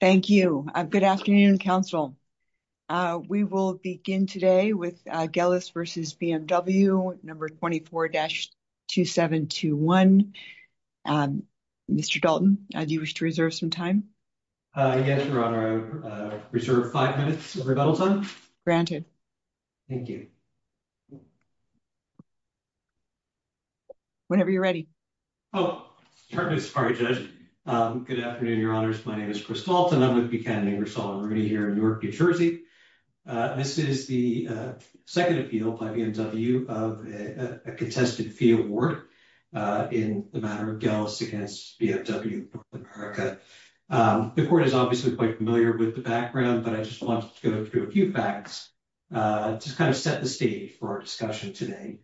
Thank you. Good afternoon, Council. We will begin today with Gelis v. BMW No. 24-2721. Mr. Dalton, do you wish to reserve some time? Yes, Your Honor. I reserve 5 minutes of rebuttal time. Granted. Thank you. Whenever you're ready. Good afternoon, Your Honors. My name is Chris Dalton. I'm with Buchanan Ingersoll & Rooney here in Newark, New Jersey. This is the second appeal by BMW of a contested fee award in the matter of Gelis v. BMW North America. The court is obviously quite familiar with the background, but I just want to go through a few facts to kind of set the stage for our discussion today.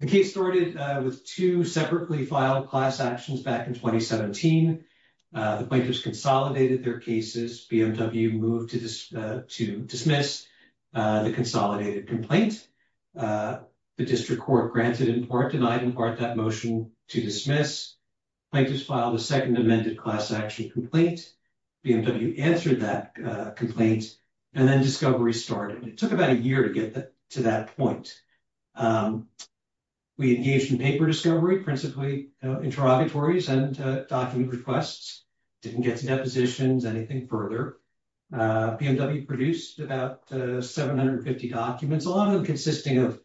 The case started with two separately filed class actions back in 2017. The plaintiffs consolidated their cases. BMW moved to dismiss the consolidated complaint. The district court granted in part, denied in part that motion to dismiss. Plaintiffs filed a second amended class action complaint. BMW answered that complaint and then discovery started. It took about a year to get to that point. We engaged in paper discovery, principally interrogatories and document requests. Didn't get to depositions or anything further. BMW produced about 750 documents, a lot of them consisting of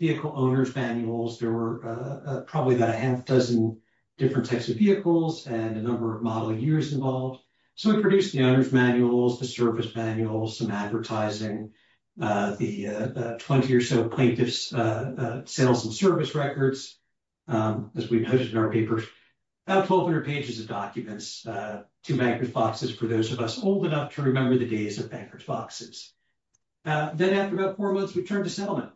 vehicle owner's manuals. There were probably about a half dozen different types of vehicles and a number of model years involved. So we produced the owner's manuals, the service manuals, some advertising, the 20 or so plaintiff's sales and service records, as we noted in our papers. About 1,200 pages of documents, two bankrupt boxes for those of us old enough to remember the days of bankrupt boxes. Then after about four months, we turned to settlement.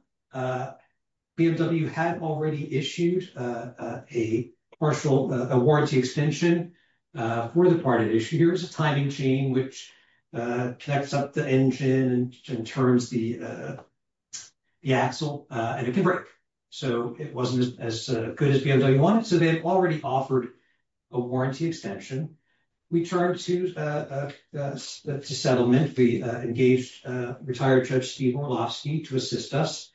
BMW had already issued a partial warranty extension for the part it issued. There was a timing chain which connects up the engine and turns the axle and it can break. So it wasn't as good as BMW wanted. So they had already offered a warranty extension. We turned to settlement. We engaged retired Judge Steve Orlovsky to assist us.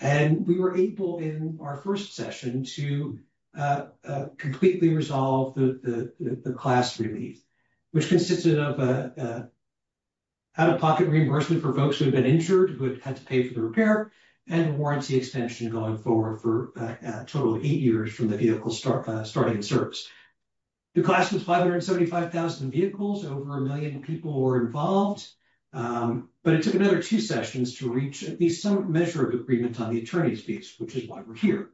And we were able in our first session to completely resolve the class relief, which consisted of out-of-pocket reimbursement for folks who had been injured, who had had to pay for the repair, and warranty extension going forward for a total of eight years from the vehicle starting service. The class was 575,000 vehicles. Over a million people were involved. But it took another two sessions to reach at least some measure of agreement on the attorney's fees, which is why we're here.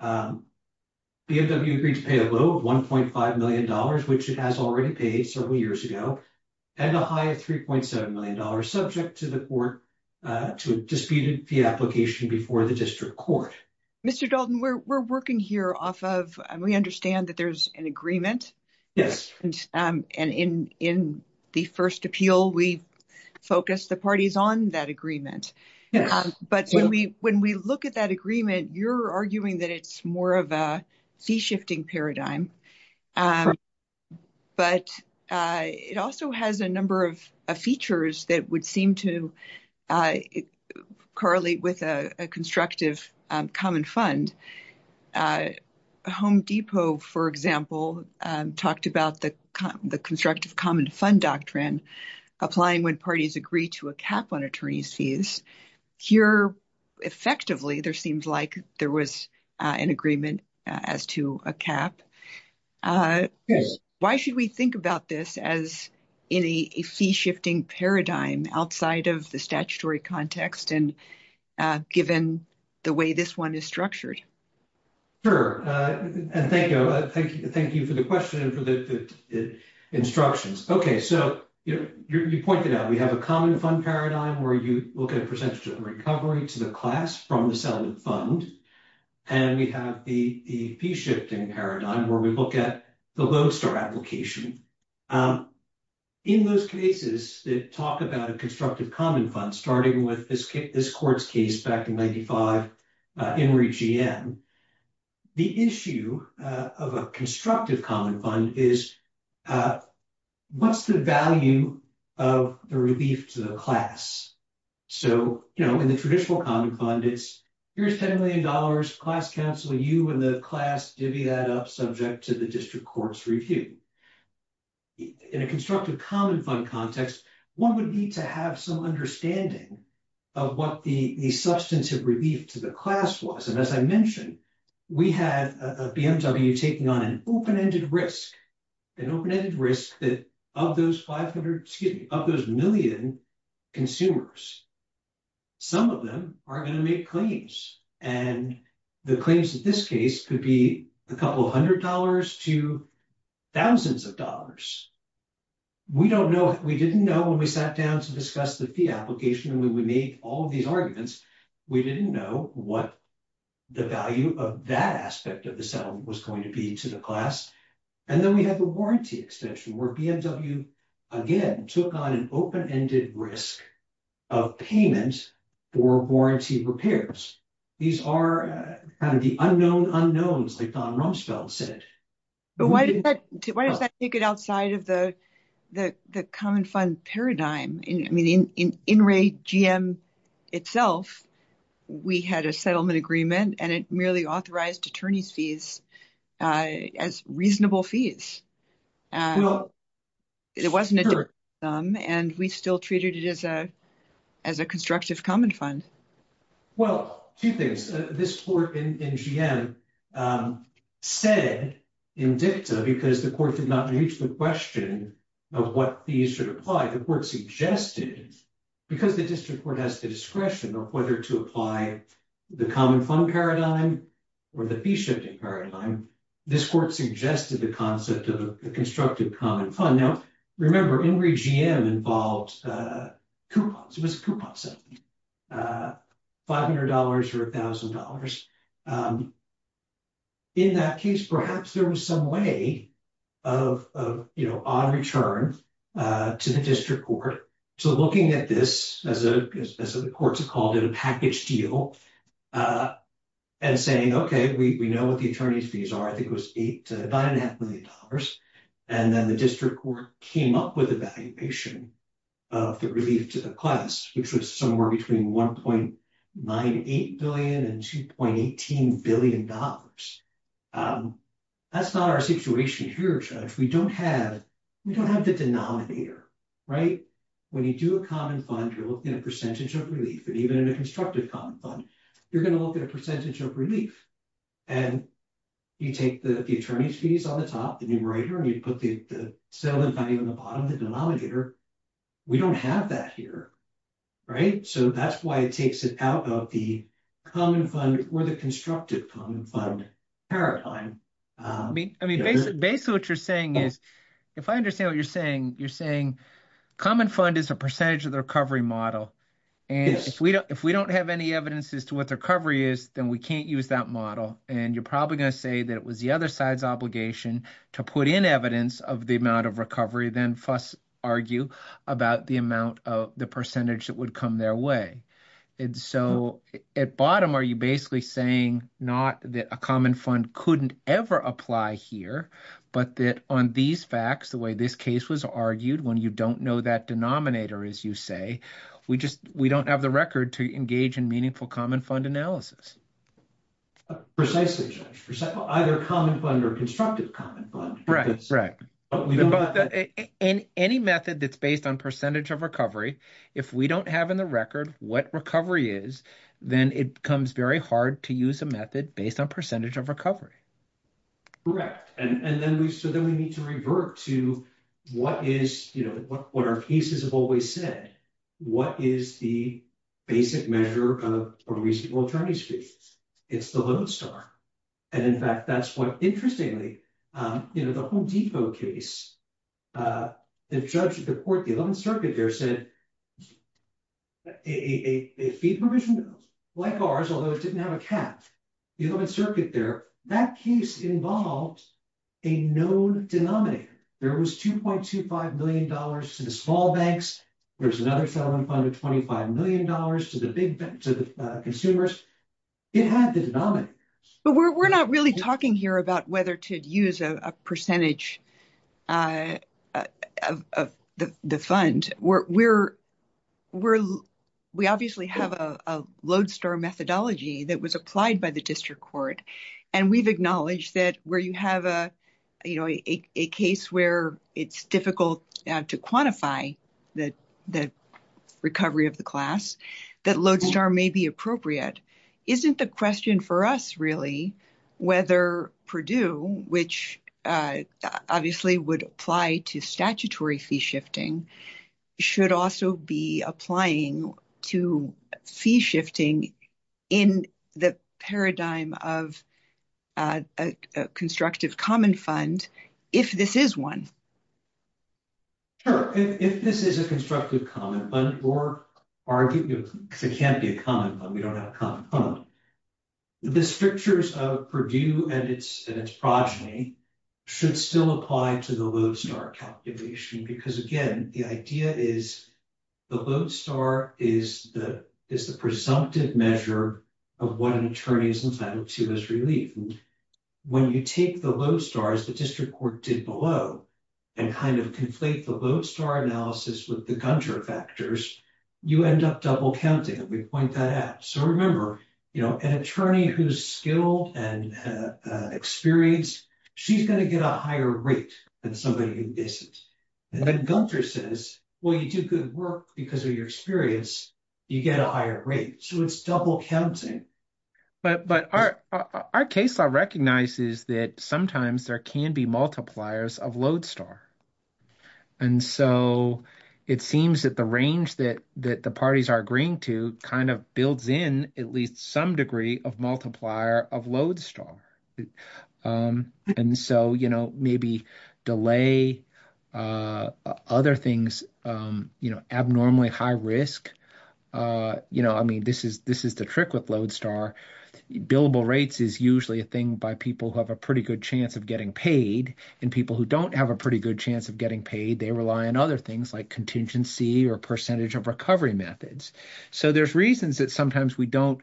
BMW agreed to pay a low of $1.5 million, which it has already paid several years ago, and a high of $3.7 million, subject to the court to a disputed fee application before the district court. Mr. Dalton, we're working here off of, and we understand that there's an agreement. Yes, and in the first appeal, we focused the parties on that agreement. But when we look at that agreement, you're arguing that it's more of a fee shifting paradigm. But it also has a number of features that would seem to correlate with a constructive common fund. Home Depot, for example, talked about the constructive common fund doctrine, applying when parties agree to a cap on attorney's fees. Here, effectively, there seems like there was an agreement as to a cap. Why should we think about this as in a fee shifting paradigm outside of the statutory context and given the way this one is structured? Sure. Thank you. Thank you for the question and for the instructions. OK, so you pointed out we have a common fund paradigm where you look at a percentage of recovery to the class from the settlement fund. And we have the fee shifting paradigm where we look at the Lowe's star application. In those cases that talk about a constructive common fund, starting with this court's case back in 95, Henry G.M., the issue of a constructive common fund is what's the value of the relief to the class? So, you know, in the traditional common fund, it's here's $10 million, class counsel you and the class divvy that up subject to the district court's review. In a constructive common fund context, one would need to have some understanding of what the substantive relief to the class was. And as I mentioned, we had a BMW taking on an open ended risk, an open ended risk that of those 500, excuse me, of those million consumers, some of them are going to make claims and the claims of this case could be a couple of hundred dollars to thousands of dollars. We don't know. We didn't know when we sat down to discuss the fee application and we made all of these arguments. We didn't know what the value of that aspect of the settlement was going to be to the class. And then we have the warranty extension where BMW again took on an open ended risk of payment for warranty repairs. These are the unknown unknowns, like Don Rumsfeld said. But why does that take it outside of the common fund paradigm? I mean, in in Ray GM itself, we had a settlement agreement and it merely authorized attorneys fees as reasonable fees. It wasn't them, and we still treated it as a as a constructive common fund. Well, two things. This court in GM said in dicta, because the court did not reach the question of what fees should apply, the court suggested because the district court has the discretion of whether to apply the common fund paradigm or the fee shifting paradigm. This court suggested the concept of a constructive common fund. Now, remember, in Ray GM involved coupons. It was a coupon settlement. Five hundred dollars or a thousand dollars. In that case, perhaps there was some way of, you know, on return to the district court. So looking at this as the courts have called it a package deal and saying, OK, we know what the attorney's fees are. I think it was eight to nine and a half million dollars. And then the district court came up with a valuation of the relief to the class, which was somewhere between one point nine, eight billion and two point eighteen billion dollars. That's not our situation here. We don't have we don't have the denominator. Right. When you do a common fund rule in a percentage of relief and even in a constructive common fund, you're going to look at a percentage of relief and you take the attorney's fees on the top, the numerator, and you put the selling value on the bottom of the denominator. We don't have that here. Right. So that's why it takes it out of the common fund or the constructive common fund paradigm. I mean, I mean, basically what you're saying is if I understand what you're saying, you're saying common fund is a percentage of the recovery model. And if we don't if we don't have any evidence as to what the recovery is, then we can't use that model. And you're probably going to say that it was the other side's obligation to put in evidence of the amount of recovery, then argue about the amount of the percentage that would come their way. And so at bottom, are you basically saying not that a common fund couldn't ever apply here, but that on these facts, the way this case was argued when you don't know that denominator, as you say, we just we don't have the record to engage in meaningful common fund analysis. Precisely, judge, either common fund or constructive common fund. Right, right. But in any method that's based on percentage of recovery, if we don't have in the record what recovery is, then it becomes very hard to use a method based on percentage of recovery. Correct. And then we said that we need to revert to what is what our cases have always said. What is the basic measure of a reasonable attorney's case? It's the Lone Star. And in fact, that's what interestingly, you know, the Home Depot case, the judge at the court, the 11th Circuit there said. A fee provision, like ours, although it didn't have a cap, the 11th Circuit there, that case involved a known denominator. There was two point two five million dollars to the small banks. There's another settlement fund of twenty five million dollars to the big to the consumers. It had the denominator. But we're not really talking here about whether to use a percentage of the fund. We're we're we obviously have a Lone Star methodology that was applied by the district court. And we've acknowledged that where you have a, you know, a case where it's difficult to quantify that the recovery of the class that Lone Star may be appropriate. But isn't the question for us really whether Purdue, which obviously would apply to statutory fee shifting, should also be applying to fee shifting in the paradigm of a constructive common fund. If this is one. Sure, if this is a constructive common fund or argue it can't be a common fund, we don't have a common fund. The strictures of Purdue and its and its progeny should still apply to the Lone Star calculation, because, again, the idea is the Lone Star is the is the presumptive measure of what an attorney is entitled to as relief. And when you take the Lone Star as the district court did below and kind of conflate the Lone Star analysis with the Gunter factors, you end up double counting. And we point that out. So remember, you know, an attorney who's skilled and experienced, she's going to get a higher rate than somebody who isn't. And then Gunter says, well, you do good work because of your experience. You get a higher rate. So it's double counting. But but our, our case law recognizes that sometimes there can be multipliers of Lone Star. And so it seems that the range that that the parties are agreeing to kind of builds in at least some degree of multiplier of Lone Star. And so, you know, maybe delay other things, you know, abnormally high risk. You know, I mean, this is this is the trick with Lone Star. Billable rates is usually a thing by people who have a pretty good chance of getting paid and people who don't have a pretty good chance of getting paid. They rely on other things like contingency or percentage of recovery methods. So there's reasons that sometimes we don't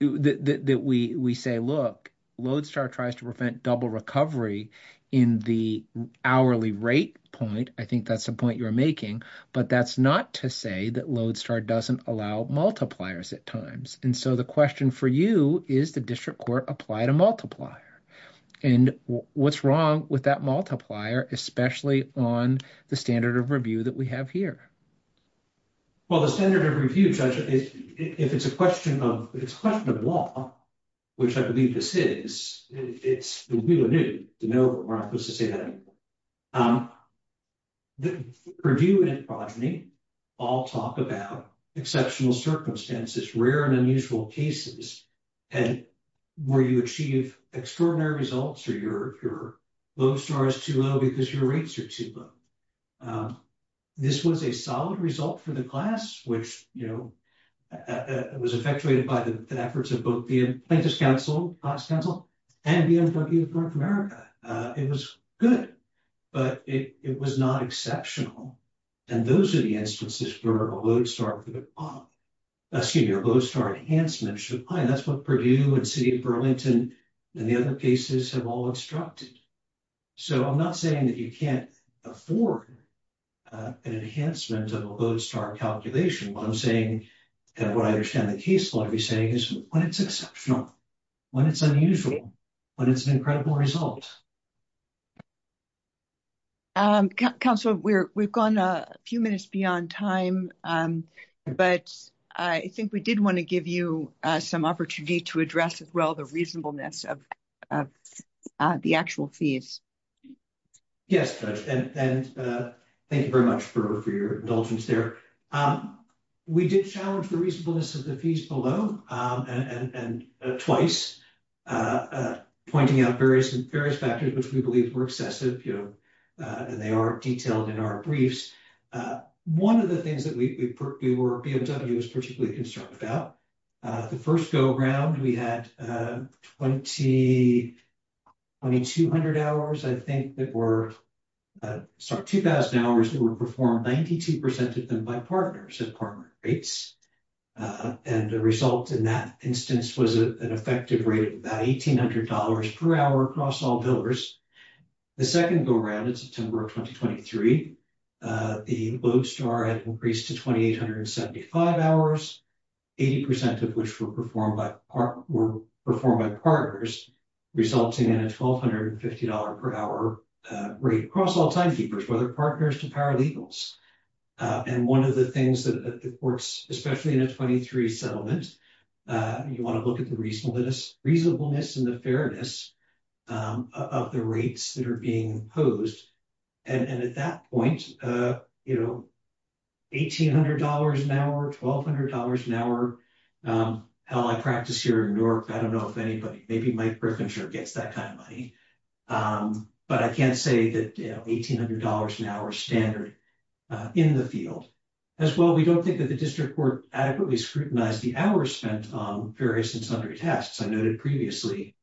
that we we say, look, Lone Star tries to prevent double recovery in the hourly rate point. I think that's the point you're making, but that's not to say that Lone Star doesn't allow multipliers at times. And so the question for you is the district court apply to multiplier and what's wrong with that multiplier, especially on the standard of review that we have here. Well, the standard of review, Judge, if it's a question of law, which I believe this is, it's the wheel of newt to know that we're not supposed to say that anymore. The review and progeny all talk about exceptional circumstances, rare and unusual cases, and where you achieve extraordinary results or your Lone Star is too low because your rates are too low. This was a solid result for the class, which, you know, was effectuated by the efforts of both the Apprentice Council, Class Council and the University of North America. It was good, but it was not exceptional. And those are the instances where a Lone Star, excuse me, a Lone Star enhancement should apply. And that's what Purdue and City of Burlington and the other cases have all instructed. So I'm not saying that you can't afford an enhancement of a Lone Star calculation, but I'm saying that what I understand the case will be saying is when it's exceptional, when it's unusual, when it's an incredible result. Council, we've gone a few minutes beyond time, but I think we did want to give you some opportunity to address as well the reasonableness of the actual fees. Yes, and thank you very much for your indulgence there. We did challenge the reasonableness of the fees below and twice, pointing out various factors which we believe were excessive, and they are detailed in our briefs. One of the things that we were particularly concerned about, the first go around, we had 2,200 hours, I think, that were, sorry, 2,000 hours that were performed, 92% of them by partners at partner rates. And the result in that instance was an effective rate of about $1,800 per hour across all builders. The second go around in September of 2023, the Lone Star had increased to 2,875 hours, 80% of which were performed by partners, resulting in a $1,250 per hour rate across all timekeepers, whether partners to paralegals. And one of the things that the courts, especially in a 23 settlement, you want to look at the reasonableness and the fairness of the rates that are being imposed. And at that point, you know, $1,800 an hour, $1,200 an hour. Hell, I practice here in Newark. I don't know if anybody, maybe Mike Griffin sure gets that kind of money. But I can't say that $1,800 an hour standard in the field. As well, we don't think that the district court adequately scrutinized the hours spent on various and sundry tests. I noted previously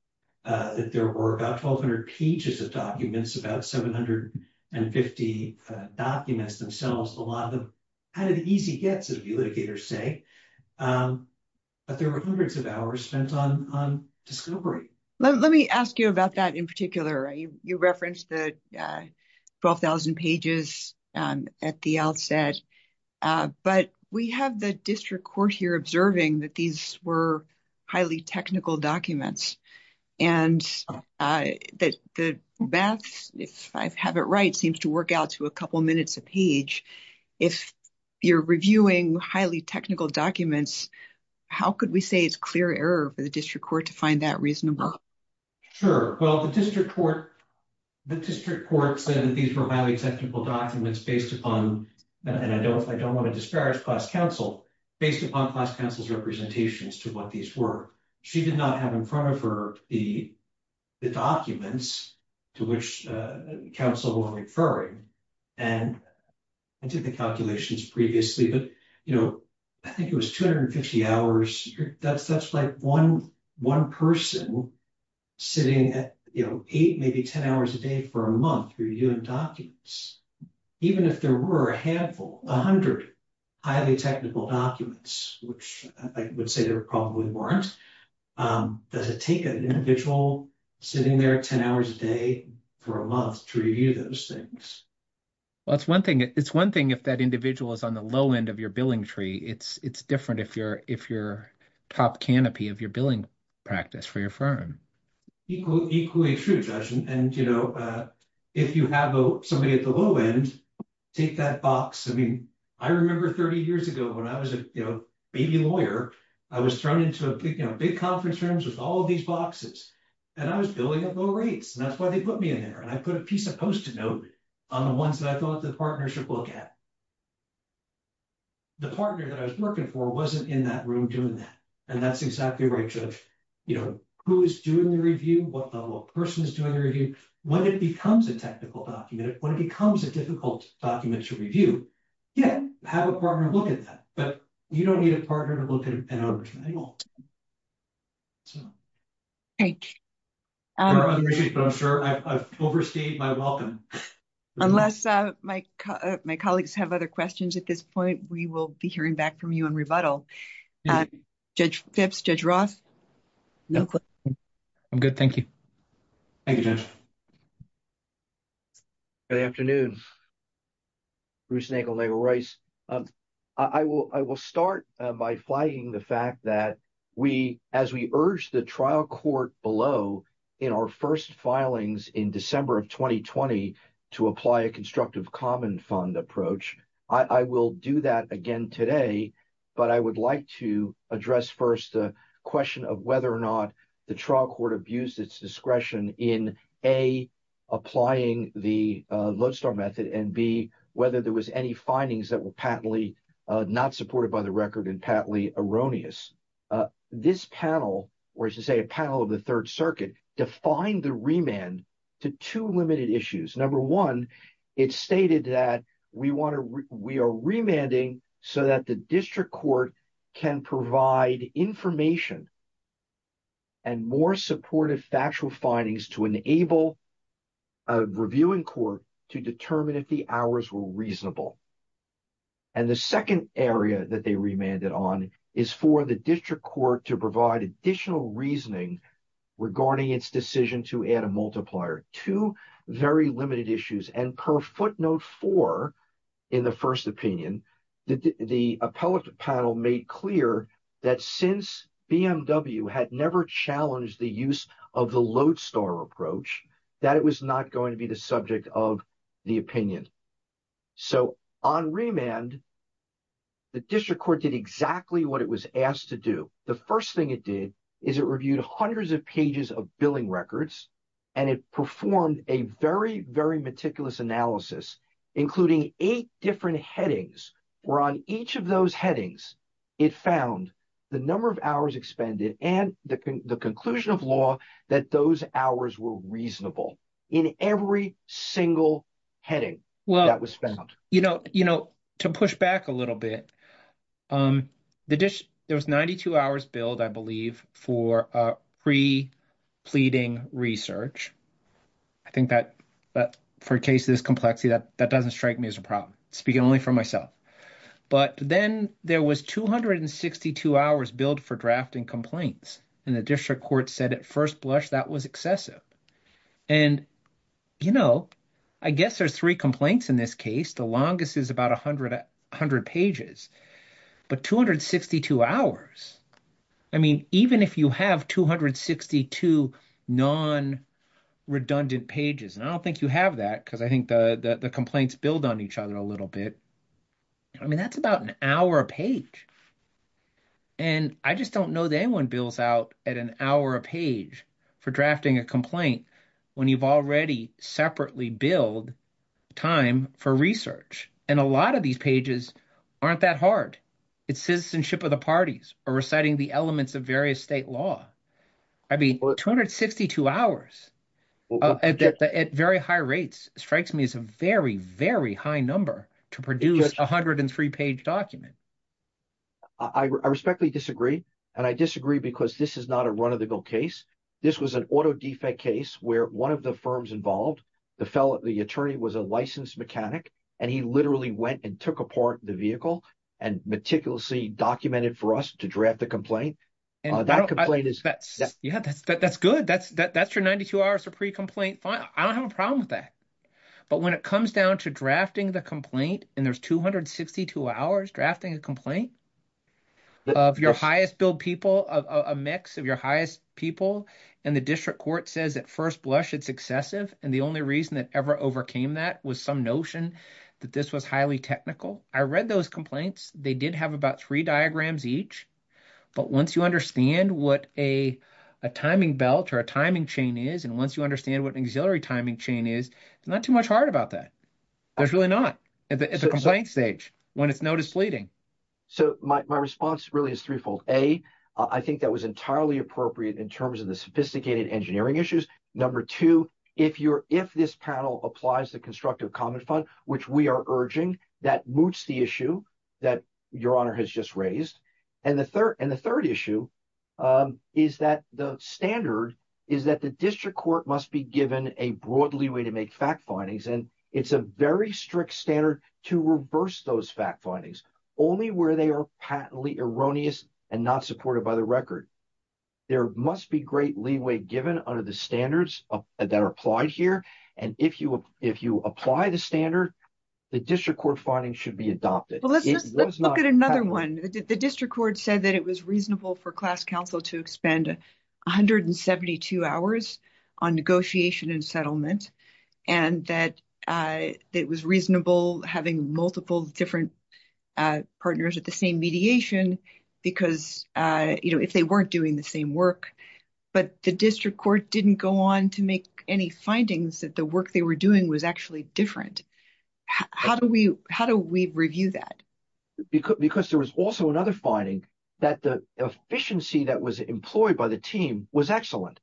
that there were about 1,200 pages of documents, about 750 documents themselves. A lot of them had an easy gets, as the litigators say, but there were hundreds of hours spent on discovery. Let me ask you about that in particular. You referenced the 12,000 pages at the outset. But we have the district court here observing that these were highly technical documents and that the math, if I have it right, seems to work out to a couple minutes a page. If you're reviewing highly technical documents, how could we say it's clear error for the district court to find that reasonable? Sure. Well, the district court said that these were highly technical documents based upon, and I don't want to disparage class counsel, based upon class counsel's representations to what these were. She did not have in front of her the documents to which counsel were referring. And I did the calculations previously, but I think it was 250 hours. That's like one person sitting at eight, maybe 10 hours a day for a month reviewing documents. Even if there were a handful, a hundred highly technical documents, which I would say there probably weren't, does it take an individual sitting there 10 hours a day for a month to review those things? Well, it's one thing if that individual is on the low end of your billing tree. It's different if you're top canopy of your billing practice for your firm. Equally true, Judge. And, you know, if you have somebody at the low end, take that box. I mean, I remember 30 years ago when I was a baby lawyer, I was thrown into a big conference rooms with all these boxes, and I was billing at low rates. And that's why they put me in there. And I put a piece of post-it note on the ones that I thought the partner should look at. The partner that I was working for wasn't in that room doing that. And that's exactly right, Judge. You know, who is doing the review? What level of person is doing the review? When it becomes a technical document, when it becomes a difficult document to review, yeah, have a partner look at that. But you don't need a partner to look at it anymore. Thank you. I'm sure I've overstayed my welcome. Unless my colleagues have other questions at this point, we will be hearing back from you on rebuttal. Judge Phipps, Judge Roth. I'm good. Thank you. Thank you, Judge. Good afternoon. Bruce Nagel, Nagel Rice. I will start by flagging the fact that we, as we urged the trial court below in our first filings in December of 2020 to apply a constructive common fund approach, I will do that again today. But I would like to address first the question of whether or not the trial court abused its discretion in, A, applying the lodestar method and, B, whether there was any findings that were patently not supported by the record and patently erroneous. This panel, or should I say a panel of the Third Circuit, defined the remand to two limited issues. Number one, it stated that we want to, we are remanding so that the district court can provide information and more supportive factual findings to enable a reviewing court to determine if the hours were reasonable. And the second area that they remanded on is for the district court to provide additional reasoning regarding its decision to add a multiplier. Two very limited issues, and per footnote four in the first opinion, the appellate panel made clear that since BMW had never challenged the use of the lodestar approach, that it was not going to be the subject of the opinion. So on remand, the district court did exactly what it was asked to do. The first thing it did is it reviewed hundreds of pages of billing records, and it performed a very, very meticulous analysis, including eight different headings. And on each of those headings, it found the number of hours expended and the conclusion of law that those hours were reasonable in every single heading that was found. You know, to push back a little bit, there was 92 hours billed, I believe, for pre-pleading research. I think that for cases of complexity, that doesn't strike me as a problem. I'm speaking only for myself. But then there was 262 hours billed for drafting complaints, and the district court said at first blush that was excessive. And, you know, I guess there's three complaints in this case. The longest is about 100 pages. But 262 hours, I mean, even if you have 262 non-redundant pages, and I don't think you have that because I think the complaints build on each other a little bit. I mean, that's about an hour a page. And I just don't know that anyone bills out at an hour a page for drafting a complaint when you've already separately billed time for research. And a lot of these pages aren't that hard. It's citizenship of the parties or reciting the elements of various state law. I mean, 262 hours at very high rates strikes me as a very, very high number to produce a 103-page document. I respectfully disagree, and I disagree because this is not a run-of-the-mill case. This was an auto defect case where one of the firms involved, the attorney was a licensed mechanic, and he literally went and took apart the vehicle and meticulously documented for us to draft the complaint. That complaint is – Yeah, that's good. That's your 92 hours of pre-complaint. I don't have a problem with that. But when it comes down to drafting the complaint, and there's 262 hours drafting a complaint of your highest billed people, a mix of your highest people, and the district court says at first blush it's excessive, and the only reason it ever overcame that was some notion that this was highly technical. I read those complaints. They did have about three diagrams each. But once you understand what a timing belt or a timing chain is and once you understand what an auxiliary timing chain is, it's not too much hard about that. There's really not at the complaint stage when it's notice pleading. So my response really is threefold. A, I think that was entirely appropriate in terms of the sophisticated engineering issues. Number two, if this panel applies the constructive comment fund, which we are urging, that moots the issue that Your Honor has just raised. And the third issue is that the standard is that the district court must be given a broad leeway to make fact findings, and it's a very strict standard to reverse those fact findings, only where they are patently erroneous and not supported by the record. There must be great leeway given under the standards that are applied here, and if you apply the standard, the district court finding should be adopted. Let's look at another one. The district court said that it was reasonable for class counsel to expend 172 hours on negotiation and settlement, and that it was reasonable having multiple different partners at the same mediation because, you know, if they weren't doing the same work. But the district court didn't go on to make any findings that the work they were doing was actually different. How do we review that? Because there was also another finding that the efficiency that was employed by the team was excellent.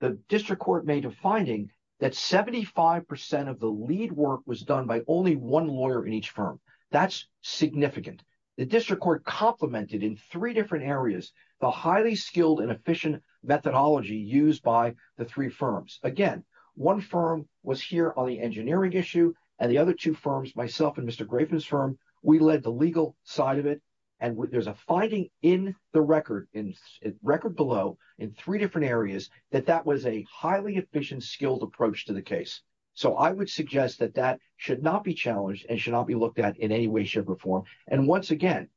The district court made a finding that 75% of the lead work was done by only one lawyer in each firm. That's significant. The district court complemented in three different areas the highly skilled and efficient methodology used by the three firms. Again, one firm was here on the engineering issue, and the other two firms, myself and Mr. Graven's firm, we led the legal side of it, and there's a finding in the record below in three different areas that that was a highly efficient, skilled approach to the case. So I would suggest that that should not be challenged and should not be looked at in any way, shape, or form. And once again,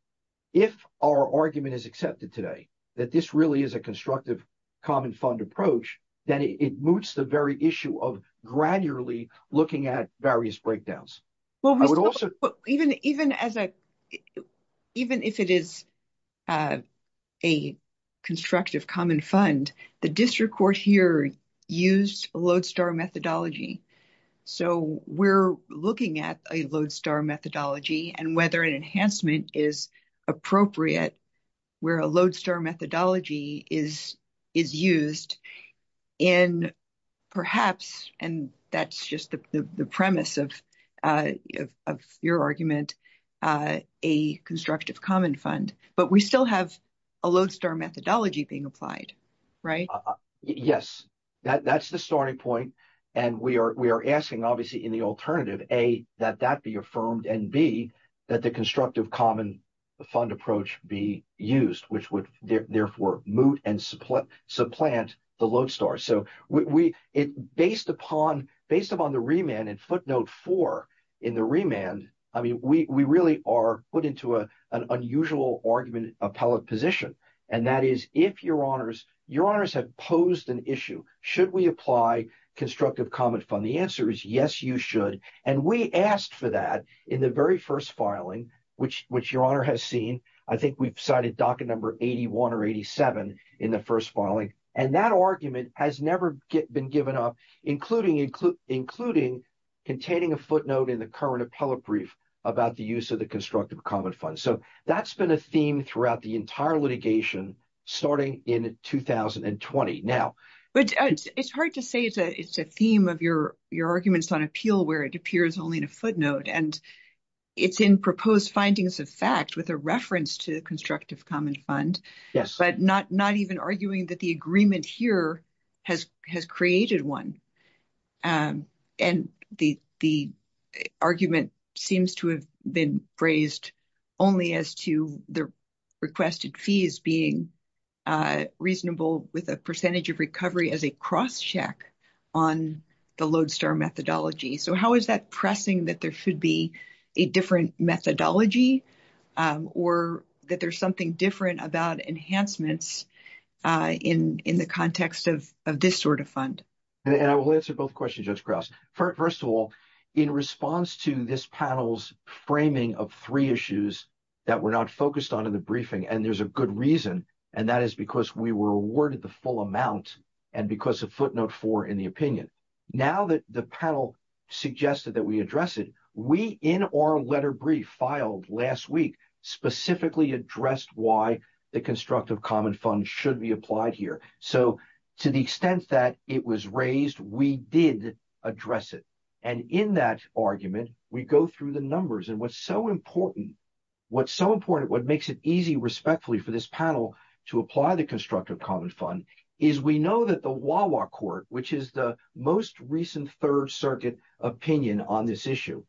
if our argument is accepted today that this really is a constructive common fund approach, then it moots the very issue of gradually looking at various breakdowns. Even if it is a constructive common fund, the district court here used a lodestar methodology, so we're looking at a lodestar methodology and whether an enhancement is appropriate where a lodestar methodology is used. And perhaps, and that's just the premise of your argument, a constructive common fund, but we still have a lodestar methodology being applied, right? Yes, that's the starting point, and we are asking, obviously, in the alternative, A, that that be affirmed, and B, that the constructive common fund approach be used, which would therefore moot and supplant the lodestar. So based upon the remand and footnote four in the remand, I mean, we really are put into an unusual argument appellate position, and that is, if your honors have posed an issue, should we apply constructive common fund? The answer is yes, you should, and we asked for that in the very first filing, which your honor has seen. I think we've cited docket number 81 or 87 in the first filing, and that argument has never been given up, including containing a footnote in the current appellate brief about the use of the constructive common fund. So that's been a theme throughout the entire litigation, starting in 2020. Now— But it's hard to say it's a theme of your arguments on appeal where it appears only in a footnote, and it's in proposed findings of fact with a reference to constructive common fund, but not even arguing that the agreement here has created one. And the argument seems to have been raised only as to the requested fees being reasonable with a percentage of recovery as a crosscheck on the lodestar methodology. So how is that pressing that there should be a different methodology or that there's something different about enhancements in the context of this sort of fund? And I will answer both questions, Judge Krause. First of all, in response to this panel's framing of three issues that were not focused on in the briefing, and there's a good reason, and that is because we were awarded the full amount and because of footnote four in the opinion. Now that the panel suggested that we address it, we, in our letter brief filed last week, specifically addressed why the constructive common fund should be applied here. So to the extent that it was raised, we did address it. And in that argument, we go through the numbers. And what's so important, what's so important, what makes it easy, respectfully, for this panel to apply the constructive common fund is we know that the Wawa court, which is the most recent Third Circuit opinion on this issue,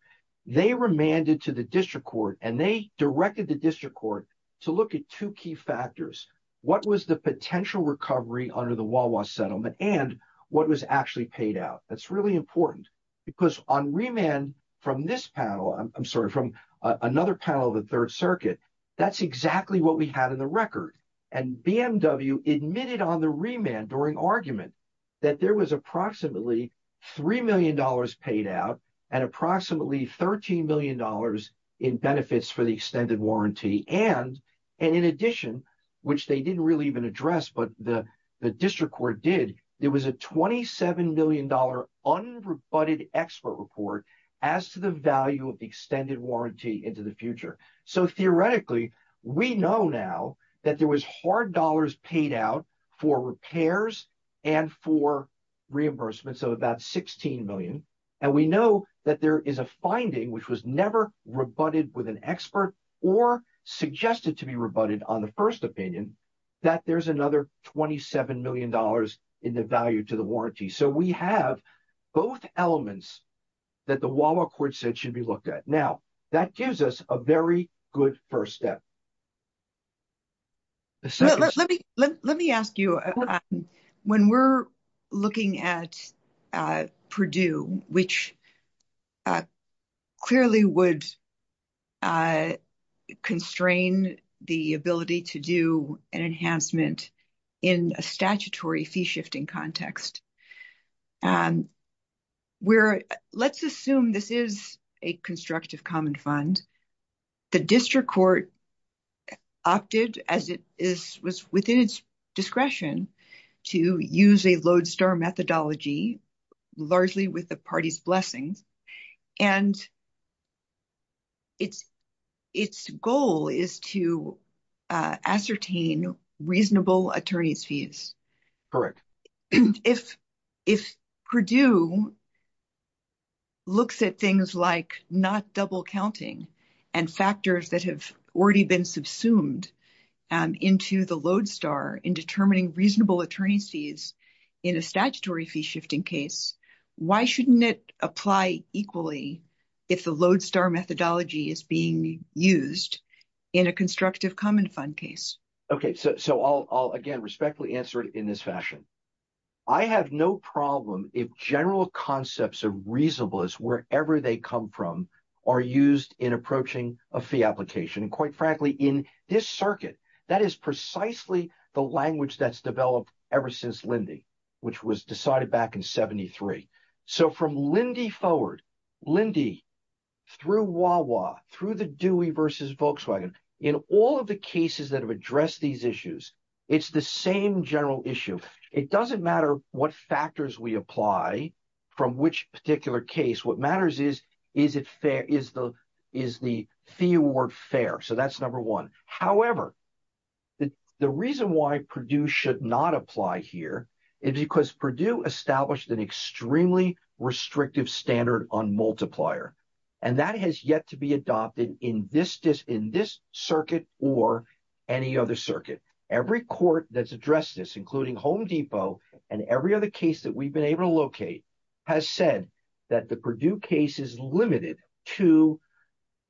they remanded to the district court, and they directed the district court to look at two key factors. What was the potential recovery under the Wawa settlement and what was actually paid out? That's really important. Because on remand from this panel, I'm sorry, from another panel of the Third Circuit, that's exactly what we had in the record. And BMW admitted on the remand during argument that there was approximately $3 million paid out and approximately $13 million in benefits for the extended warranty. And in addition, which they didn't really even address, but the district court did, there was a $27 million unrebutted expert report as to the value of the extended warranty into the future. So theoretically, we know now that there was hard dollars paid out for repairs and for reimbursement, so about $16 million. And we know that there is a finding, which was never rebutted with an expert or suggested to be rebutted on the first opinion, that there's another $27 million in the value to the warranty. So we have both elements that the Wawa court said should be looked at. Now, that gives us a very good first step. Let me ask you, when we're looking at Purdue, which clearly would constrain the ability to do an enhancement in a statutory fee shifting context. Let's assume this is a constructive common fund. The district court opted, as it was within its discretion, to use a lodestar methodology, largely with the party's blessings. And its goal is to ascertain reasonable attorney's fees. Correct. If Purdue looks at things like not double counting and factors that have already been subsumed into the lodestar in determining reasonable attorney's fees in a statutory fee shifting case, why shouldn't it apply equally if the lodestar methodology is being used in a constructive common fund case? Okay, so I'll again respectfully answer it in this fashion. I have no problem if general concepts of reasonableness, wherever they come from, are used in approaching a fee application. And quite frankly, in this circuit, that is precisely the language that's developed ever since Lindy, which was decided back in 73. So from Lindy forward, Lindy through Wawa, through the Dewey versus Volkswagen, in all of the cases that have addressed these issues, it's the same general issue. It doesn't matter what factors we apply from which particular case. What matters is, is the fee award fair? So that's number one. However, the reason why Purdue should not apply here is because Purdue established an extremely restrictive standard on multiplier. And that has yet to be adopted in this circuit or any other circuit. Every court that's addressed this, including Home Depot and every other case that we've been able to locate, has said that the Purdue case is limited to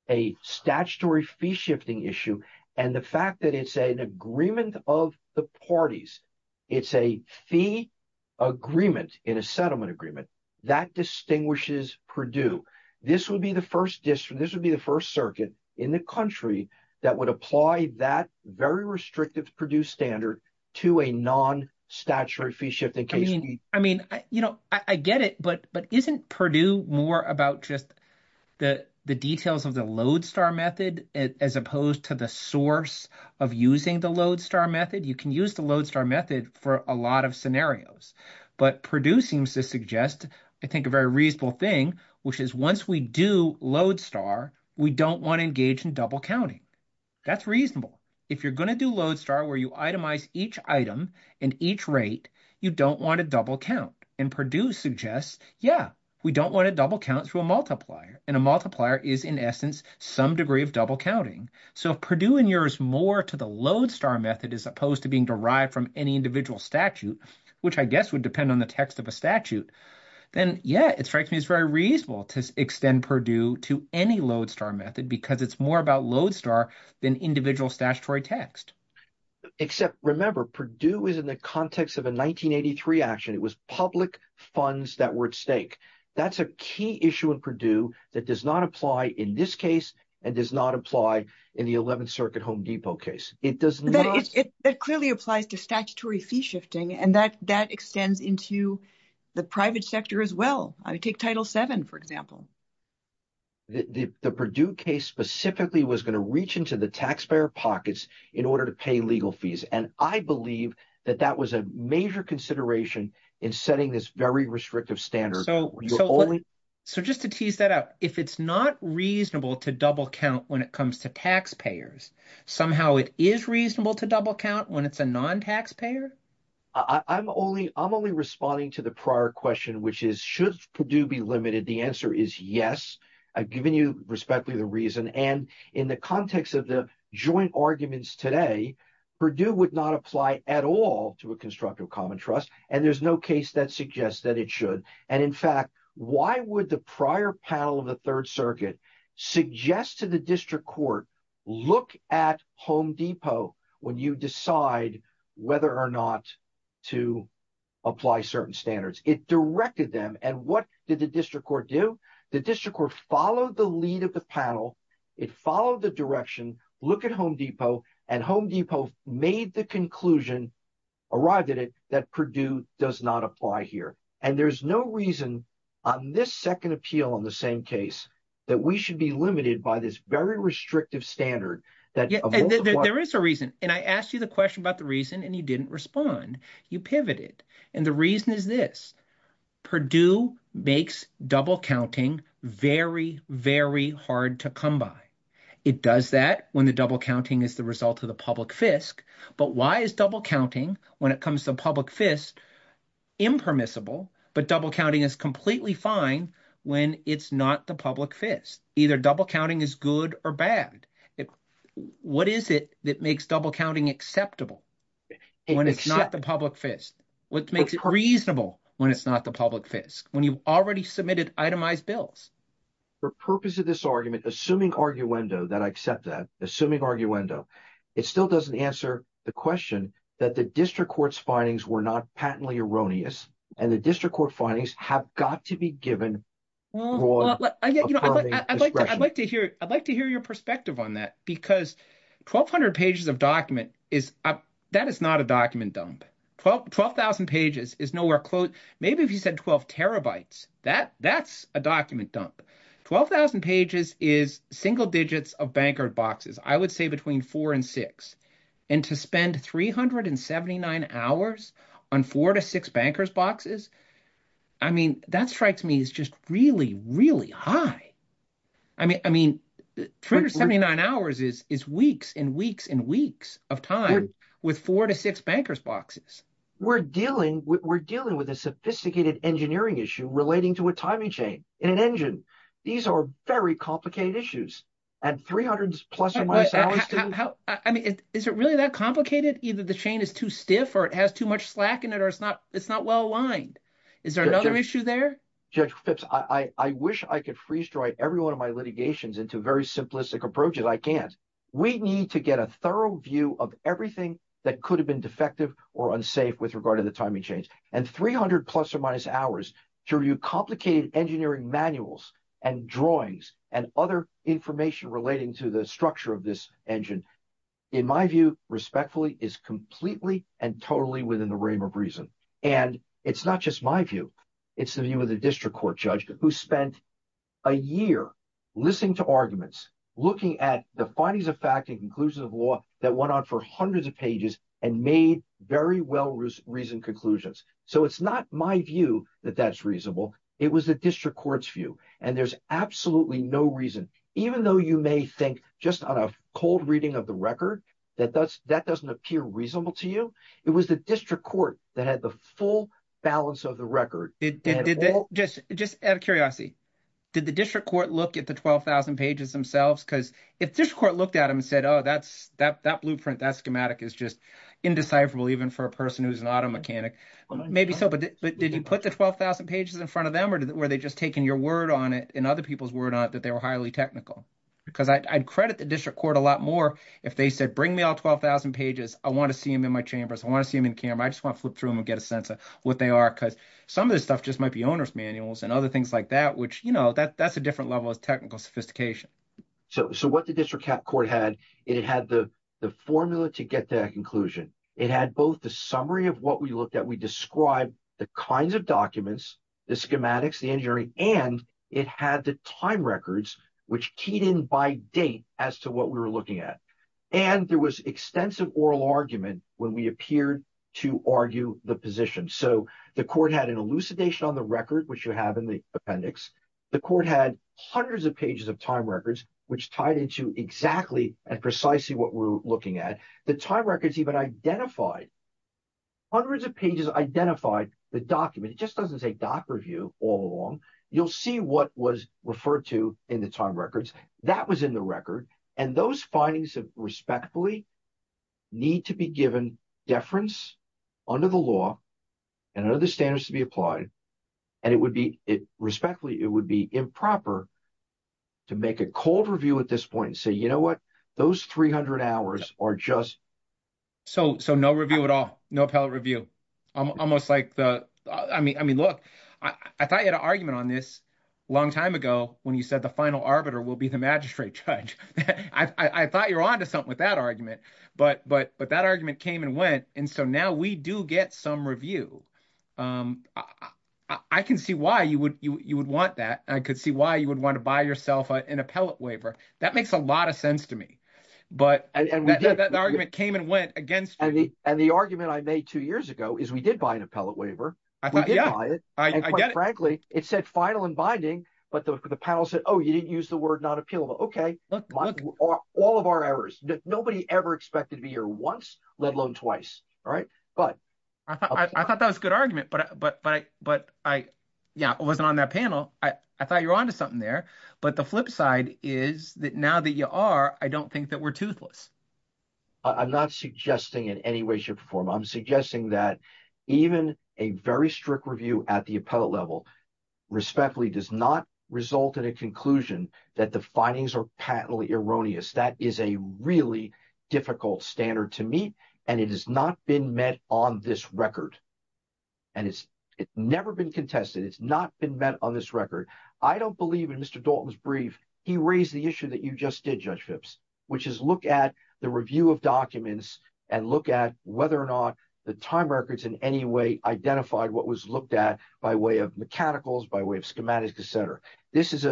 a statutory fee shifting issue. And the fact that it's an agreement of the parties, it's a fee agreement in a settlement agreement, that distinguishes Purdue. This would be the first district, this would be the first circuit in the country that would apply that very restrictive Purdue standard to a non-statutory fee shifting case. I get it, but isn't Purdue more about just the details of the Lodestar method as opposed to the source of using the Lodestar method? You can use the Lodestar method for a lot of scenarios. But Purdue seems to suggest, I think, a very reasonable thing, which is once we do Lodestar, we don't want to engage in double counting. That's reasonable. If you're going to do Lodestar where you itemize each item and each rate, you don't want to double count. And Purdue suggests, yeah, we don't want to double count through a multiplier. And a multiplier is, in essence, some degree of double counting. So if Purdue and yours more to the Lodestar method as opposed to being derived from any individual statute, which I guess would depend on the text of a statute, then, yeah, it strikes me as very reasonable to extend Purdue to any Lodestar method because it's more about Lodestar than individual statutory text. Except, remember, Purdue is in the context of a 1983 action. It was public funds that were at stake. That's a key issue in Purdue that does not apply in this case and does not apply in the 11th Circuit Home Depot case. It clearly applies to statutory fee shifting, and that extends into the private sector as well. Take Title VII, for example. The Purdue case specifically was going to reach into the taxpayer pockets in order to pay legal fees, and I believe that that was a major consideration in setting this very restrictive standard. So just to tease that out, if it's not reasonable to double count when it comes to taxpayers, somehow it is reasonable to double count when it's a non-taxpayer? I'm only responding to the prior question, which is should Purdue be limited? The answer is yes. I've given you respectfully the reason, and in the context of the joint arguments today, Purdue would not apply at all to a constructive common trust, and there's no case that suggests that it should. And in fact, why would the prior panel of the Third Circuit suggest to the district court, look at Home Depot when you decide whether or not to apply certain standards? It directed them, and what did the district court do? The district court followed the lead of the panel. It followed the direction, look at Home Depot, and Home Depot made the conclusion, arrived at it, that Purdue does not apply here. And there's no reason on this second appeal on the same case that we should be limited by this very restrictive standard. There is a reason, and I asked you the question about the reason, and you didn't respond. You pivoted, and the reason is this. Purdue makes double counting very, very hard to come by. It does that when the double counting is the result of the public fisc, but why is double counting, when it comes to public fisc, impermissible, but double counting is completely fine when it's not the public fisc? Either double counting is good or bad. What is it that makes double counting acceptable when it's not the public fisc? What makes it reasonable when it's not the public fisc, when you've already submitted itemized bills? For purpose of this argument, assuming arguendo that I accept that, assuming arguendo, it still doesn't answer the question that the district court's findings were not patently erroneous, and the district court findings have got to be given broad, affirming discretion. I'd like to hear your perspective on that, because 1,200 pages of document, that is not a document dump. 12,000 pages is nowhere close. Maybe if you said 12 terabytes, that's a document dump. 12,000 pages is single digits of banker boxes. I would say between four and six, and to spend 379 hours on four to six bankers boxes, that strikes me as just really, really high. 379 hours is weeks and weeks and weeks of time with four to six bankers boxes. We're dealing with a sophisticated engineering issue relating to a timing chain in an engine. These are very complicated issues. And 300 plus of my salaries to… I mean, is it really that complicated? Either the chain is too stiff or it has too much slack in it or it's not well aligned. Is there another issue there? Judge Phipps, I wish I could freeze-dry every one of my litigations into very simplistic approaches. I can't. We need to get a thorough view of everything that could have been defective or unsafe with regard to the timing chains. And 300 plus or minus hours to review complicated engineering manuals and drawings and other information relating to the structure of this engine, in my view, respectfully, is completely and totally within the realm of reason. And it's not just my view. It's the view of the district court judge who spent a year listening to arguments, looking at the findings of fact and conclusions of law that went on for hundreds of pages and made very well-reasoned conclusions. So it's not my view that that's reasonable. It was the district court's view, and there's absolutely no reason, even though you may think just on a cold reading of the record that that doesn't appear reasonable to you. It was the district court that had the full balance of the record. Just out of curiosity, did the district court look at the 12,000 pages themselves? Because if district court looked at them and said, oh, that blueprint, that schematic is just indecipherable, even for a person who's not a mechanic, maybe so. But did you put the 12,000 pages in front of them, or were they just taking your word on it and other people's word on it that they were highly technical? Because I'd credit the district court a lot more if they said, bring me all 12,000 pages. I want to see them in my chambers. I want to see them in camera. I just want to flip through them and get a sense of what they are, because some of this stuff just might be owner's manuals and other things like that, which that's a different level of technical sophistication. So what the district court had, it had the formula to get to that conclusion. It had both the summary of what we looked at. We described the kinds of documents, the schematics, the engineering, and it had the time records, which keyed in by date as to what we were looking at. And there was extensive oral argument when we appeared to argue the position. So the court had an elucidation on the record, which you have in the appendix. The court had hundreds of pages of time records, which tied into exactly and precisely what we're looking at. The time records even identified, hundreds of pages identified the document. It just doesn't say doc review all along. You'll see what was referred to in the time records. That was in the record. And those findings, respectfully, need to be given deference under the law and under the standards to be applied. And it would be, respectfully, it would be improper to make a cold review at this point and say, you know what, those 300 hours are just. So no review at all, no appellate review. Almost like the, I mean, look, I thought you had an argument on this a long time ago when you said the final arbiter will be the magistrate judge. I thought you were onto something with that argument. But that argument came and went, and so now we do get some review. I can see why you would want that. I could see why you would want to buy yourself an appellate waiver. That makes a lot of sense to me. But the argument came and went against you. And the argument I made two years ago is we did buy an appellate waiver. We did buy it. I get it. And quite frankly, it said final and binding, but the panel said, oh, you didn't use the word not appealable. Okay. Look, look. All of our errors. Nobody ever expected to be here once, let alone twice. I thought that was a good argument, but I wasn't on that panel. I thought you were onto something there. But the flip side is that now that you are, I don't think that we're toothless. I'm not suggesting in any way, shape, or form. I'm suggesting that even a very strict review at the appellate level respectfully does not result in a conclusion that the findings are patently erroneous. That is a really difficult standard to meet, and it has not been met on this record. And it's never been contested. It's not been met on this record. I don't believe in Mr. Dalton's brief, he raised the issue that you just did, Judge Phipps, which is look at the review of documents and look at whether or not the time records in any way identified what was looked at by way of mechanicals, by way of schematics, et cetera. This is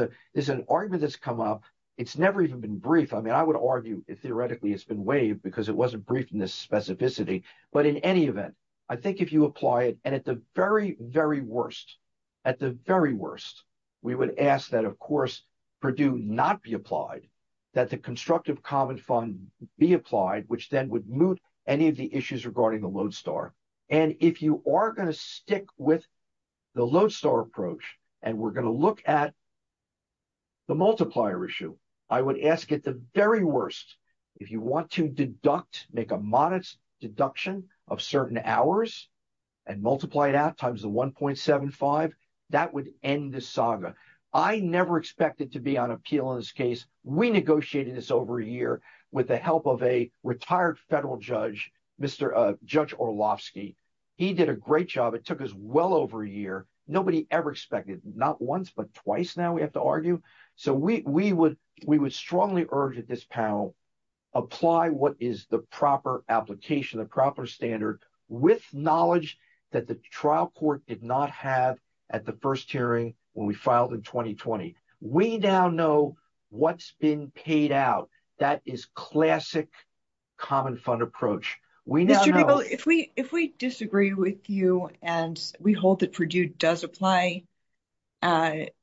an argument that's come up. It's never even been briefed. I mean, I would argue, theoretically, it's been waived because it wasn't briefed in this specificity. But in any event, I think if you apply it, and at the very, very worst, at the very worst, we would ask that, of course, Purdue not be applied. That the Constructive Common Fund be applied, which then would moot any of the issues regarding the Lodestar. And if you are going to stick with the Lodestar approach, and we're going to look at the multiplier issue, I would ask at the very worst, if you want to deduct, make a modest deduction of certain hours and multiply it out times the 1.75, that would end the saga. I never expected to be on appeal in this case. We negotiated this over a year with the help of a retired federal judge, Judge Orlovsky. He did a great job. It took us well over a year. Nobody ever expected, not once but twice now, we have to argue. So we would strongly urge that this panel apply what is the proper application, the proper standard, with knowledge that the trial court did not have at the first hearing when we filed in 2020. We now know what's been paid out. That is classic Common Fund approach. If we disagree with you, and we hold that Purdue does apply, at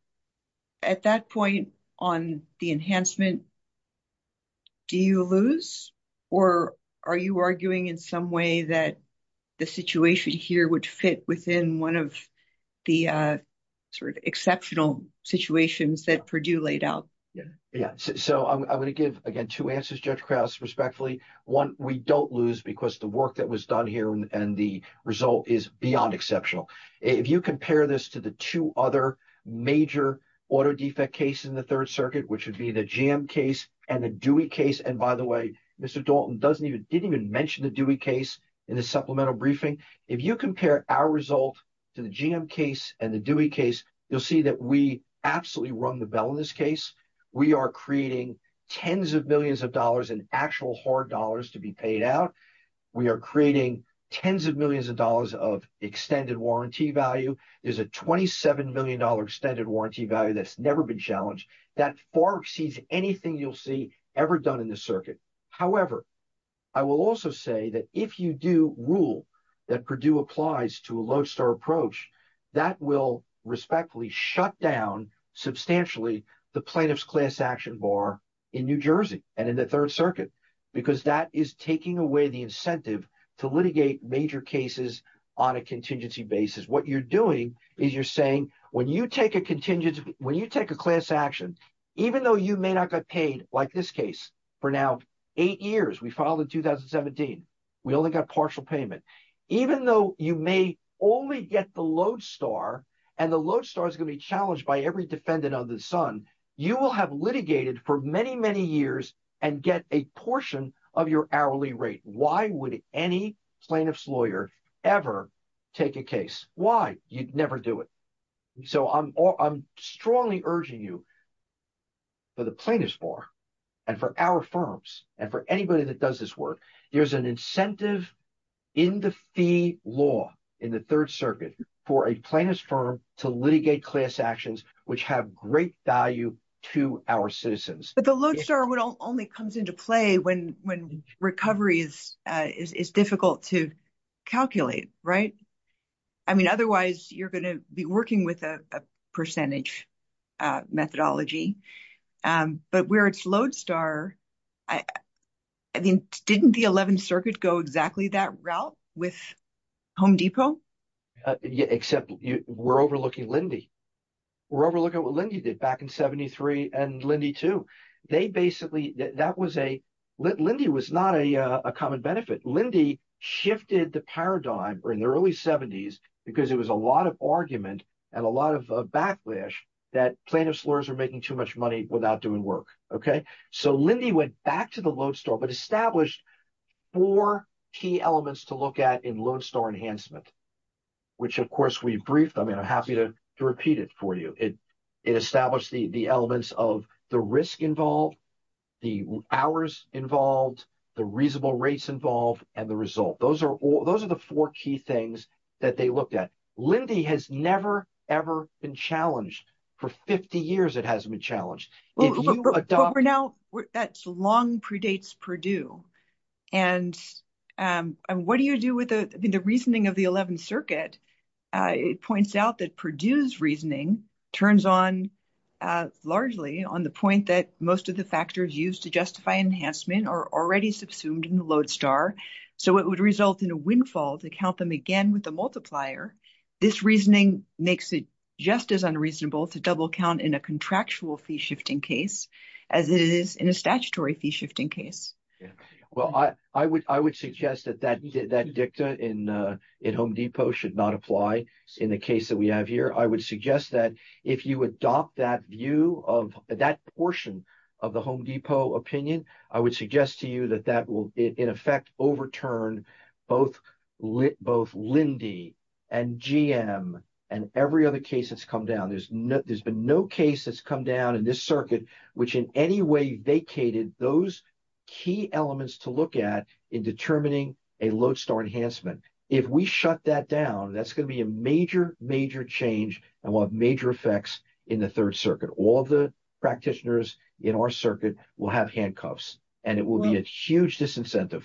that point on the enhancement, do you lose? Or are you arguing in some way that the situation here would fit within one of the sort of exceptional situations that Purdue laid out? Yeah. So I'm going to give, again, two answers, Judge Krauss, respectfully. One, we don't lose because the work that was done here and the result is beyond exceptional. If you compare this to the two other major auto defect cases in the Third Circuit, which would be the GM case and the Dewey case, and by the way, Mr. Dalton didn't even mention the Dewey case in the supplemental briefing. If you compare our result to the GM case and the Dewey case, you'll see that we absolutely run the bell in this case. We are creating tens of millions of dollars in actual hard dollars to be paid out. We are creating tens of millions of dollars of extended warranty value. There's a $27 million extended warranty value that's never been challenged. That far exceeds anything you'll see ever done in the circuit. However, I will also say that if you do rule that Purdue applies to a lodestar approach, that will respectfully shut down substantially the plaintiff's class action bar in New Jersey and in the Third Circuit, because that is taking away the incentive to litigate major cases on a contingency basis. What you're doing is you're saying when you take a class action, even though you may not get paid like this case for now eight years, we filed in 2017, we only got partial payment, even though you may only get the lodestar and the lodestar is going to be challenged by every defendant under the sun, you will have litigated for many, many years and get a portion of your hourly rate. Why would any plaintiff's lawyer ever take a case? Why? You'd never do it. So I'm strongly urging you for the plaintiff's bar and for our firms and for anybody that does this work, there's an incentive in the fee law in the Third Circuit for a plaintiff's firm to litigate class actions, which have great value to our citizens. But the lodestar only comes into play when recovery is difficult to calculate, right? I mean, otherwise, you're going to be working with a percentage methodology. But where it's lodestar, I mean, didn't the Eleventh Circuit go exactly that route with Home Depot? Except we're overlooking Lyndi. We're overlooking what Lyndi did back in 73 and Lyndi too. They basically, that was a, Lyndi was not a common benefit. Lyndi shifted the paradigm in the early 70s because it was a lot of argument and a lot of backlash that plaintiff's lawyers were making too much money without doing work. So Lyndi went back to the lodestar but established four key elements to look at in lodestar enhancement, which, of course, we briefed. I mean, I'm happy to repeat it for you. It established the elements of the risk involved, the hours involved, the reasonable rates involved, and the result. Those are the four key things that they looked at. Lyndi has never, ever been challenged. For 50 years, it hasn't been challenged. But for now, that long predates Purdue. And what do you do with the reasoning of the Eleventh Circuit? It points out that Purdue's reasoning turns on largely on the point that most of the factors used to justify enhancement are already subsumed in the lodestar. So it would result in a windfall to count them again with a multiplier. This reasoning makes it just as unreasonable to double count in a contractual fee-shifting case as it is in a statutory fee-shifting case. Well, I would suggest that that dicta in Home Depot should not apply in the case that we have here. I would suggest that if you adopt that view of that portion of the Home Depot opinion, I would suggest to you that that will, in effect, overturn both Lyndi and GM and every other case that's come down. There's been no case that's come down in this circuit which in any way vacated those key elements to look at in determining a lodestar enhancement. If we shut that down, that's going to be a major, major change and will have major effects in the Third Circuit. All the practitioners in our circuit will have handcuffs, and it will be a huge disincentive.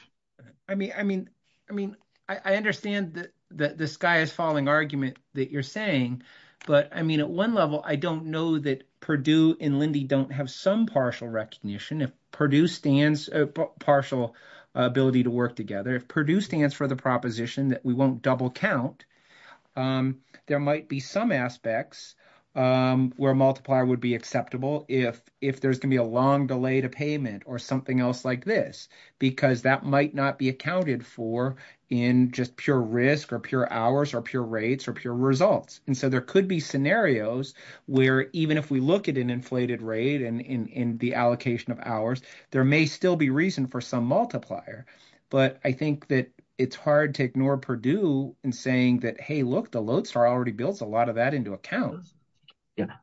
I mean, I understand that the sky is falling argument that you're saying, but, I mean, at one level, I don't know that Purdue and Lyndi don't have some partial recognition. If Purdue stands a partial ability to work together, if Purdue stands for the proposition that we won't double count, there might be some aspects where a multiplier would be acceptable if there's going to be a long delay to payment or something else like this. Because that might not be accounted for in just pure risk or pure hours or pure rates or pure results. And so there could be scenarios where even if we look at an inflated rate and in the allocation of hours, there may still be reason for some multiplier. But I think that it's hard to ignore Purdue in saying that, hey, look, the lodestar already builds a lot of that into account.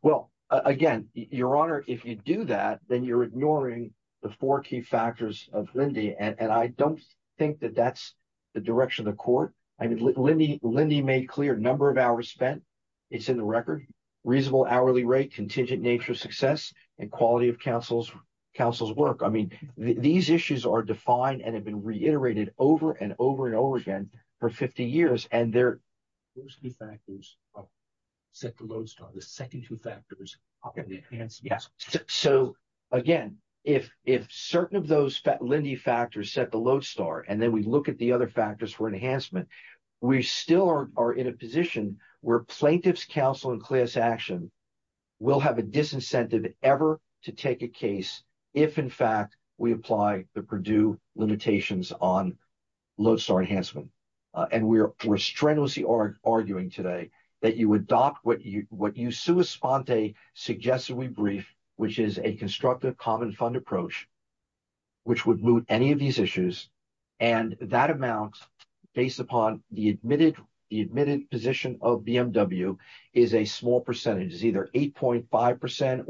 Well, again, Your Honor, if you do that, then you're ignoring the four key factors of Lyndi, and I don't think that that's the direction of the court. Lyndi made clear number of hours spent is in the record, reasonable hourly rate, contingent nature of success, and quality of counsel's work. I mean, these issues are defined and have been reiterated over and over and over again for 50 years. Those three factors set the lodestar. The second two factors are the enhancements. Yes. So, again, if certain of those Lyndi factors set the lodestar and then we look at the other factors for enhancement, we still are in a position where plaintiff's counsel and class action will have a disincentive ever to take a case if, in fact, we apply the Purdue limitations on lodestar enhancement. And we're strenuously arguing today that you adopt what you sui sponte suggestively brief, which is a constructive common fund approach, which would moot any of these issues. And that amount, based upon the admitted position of BMW, is a small percentage. It's either 8.5%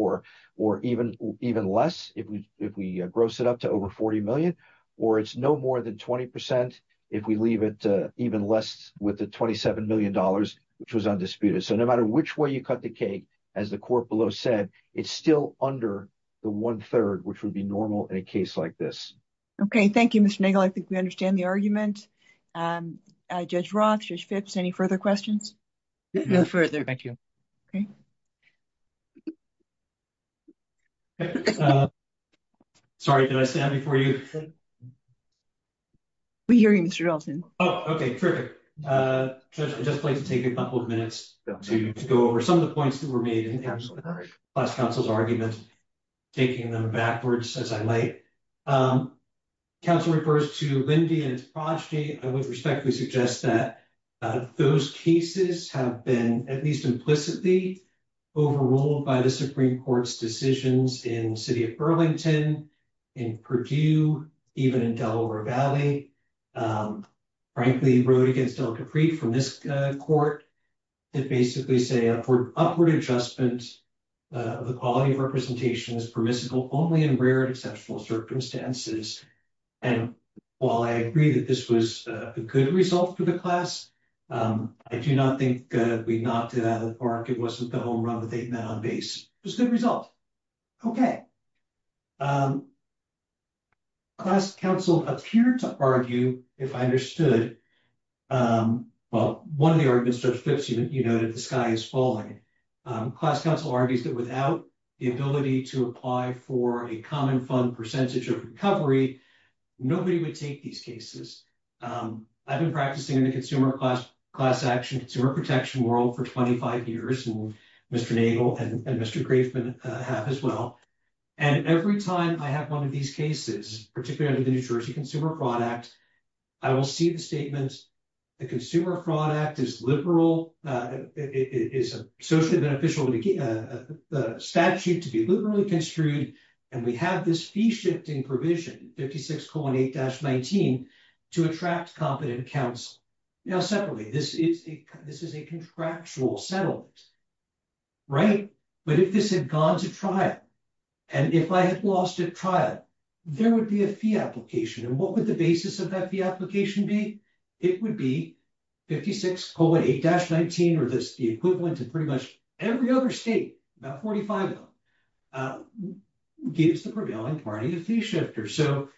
or even less if we gross it up to over $40 million, or it's no more than 20% if we leave it even less with the $27 million, which was undisputed. So no matter which way you cut the cake, as the court below said, it's still under the one-third, which would be normal in a case like this. Okay, thank you, Mr. Nagle. I think we understand the argument. Judge Roth, Judge Phipps, any further questions? No further. Thank you. Okay. Sorry, did I stand before you? We hear you, Mr. Dalton. Oh, okay, perfect. Judge, I'd just like to take a couple of minutes to go over some of the points that were made in the last council's argument, taking them backwards as I might. Council refers to Lindy and its progeny. I would respectfully suggest that those cases have been, at least implicitly, overruled by the Supreme Court's decisions in the city of Burlington, in Purdue, even in Delaware Valley. Frankly, he wrote against El Capri from this court to basically say upward adjustment of the quality of representation is permissible only in rare and exceptional circumstances. And while I agree that this was a good result for the class, I do not think we knocked it out of the park. It wasn't the home run that they met on base. It was a good result. Okay. Class counsel appear to argue, if I understood, well, one of the arguments, Judge Phipps, you noted the sky is falling. Class counsel argues that without the ability to apply for a common fund percentage of recovery, nobody would take these cases. I've been practicing in the consumer class action, consumer protection world for 25 years, and Mr. Nagle and Mr. Grafman have as well. And every time I have one of these cases, particularly the New Jersey Consumer Fraud Act, I will see the statements, the Consumer Fraud Act is liberal. It is a socially beneficial statute to be liberally construed, and we have this fee shifting provision, 56.8-19, to attract competent counsel. Now, separately, this is a contractual settlement, right? But if this had gone to trial, and if I had lost at trial, there would be a fee application. And what would the basis of that fee application be? It would be 56.8-19, or the equivalent of pretty much every other state, about 45 of them, gives the prevailing party a fee shifter. So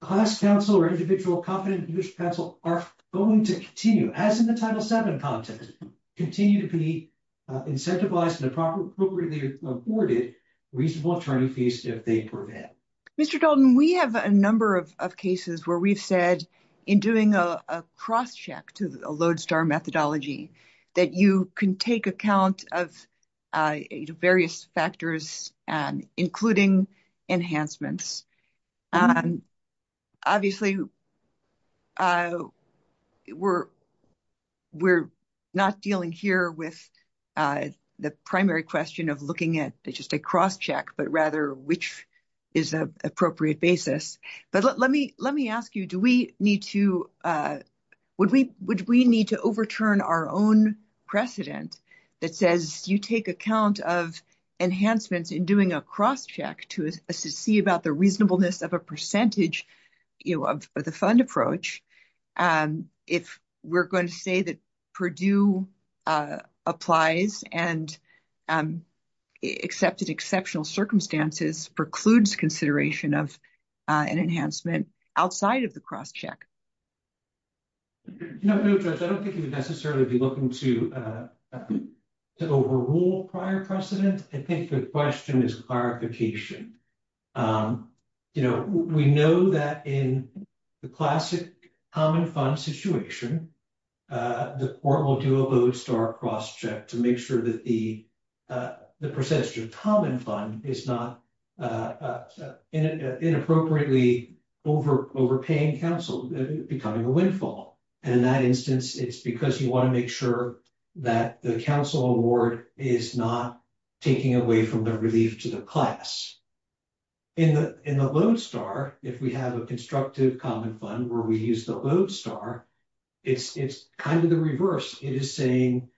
class counsel or individual competent counsel are going to continue, as in the Title VII context, continue to be incentivized and appropriately awarded reasonable attorney fees if they prevail. Mr. Dalton, we have a number of cases where we've said, in doing a cross-check to the Lodestar methodology, that you can take account of various factors, including enhancements. Obviously, we're not dealing here with the primary question of looking at just a cross-check, but rather, which is an appropriate basis. But let me ask you, would we need to overturn our own precedent that says you take account of enhancements in doing a cross-check to see about the reasonableness of a percentage of the fund approach? If we're going to say that Purdue applies and accepted exceptional circumstances precludes consideration of an enhancement outside of the cross-check? No, Judge, I don't think you would necessarily be looking to overrule prior precedent. I think the question is clarification. You know, we know that in the classic common fund situation, the court will do a Lodestar cross-check to make sure that the percentage of common fund is not inappropriately overpaying counsel, becoming a windfall. And in that instance, it's because you want to make sure that the counsel award is not taking away from the relief to the class. In the Lodestar, if we have a constructive common fund where we use the Lodestar, it's kind of the reverse. It is saying,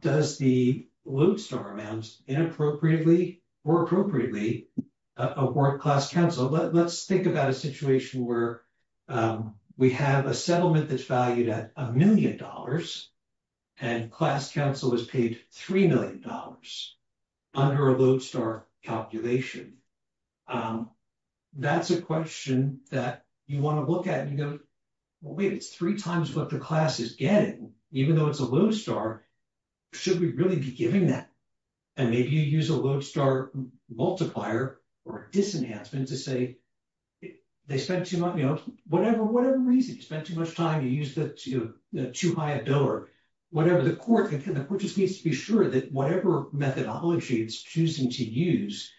does the Lodestar amount inappropriately or appropriately award class counsel? Let's think about a situation where we have a settlement that's valued at a million dollars and class counsel is paid $3 million under a Lodestar calculation. That's a question that you want to look at and go, well, wait, it's three times what the class is getting, even though it's a Lodestar. Should we really be giving that? And maybe you use a Lodestar multiplier or a disenhancement to say they spent too much, you know, whatever, whatever reason. You spend too much time, you use the too high a dollar, whatever the court, the court just needs to be sure that whatever methodology it's choosing to use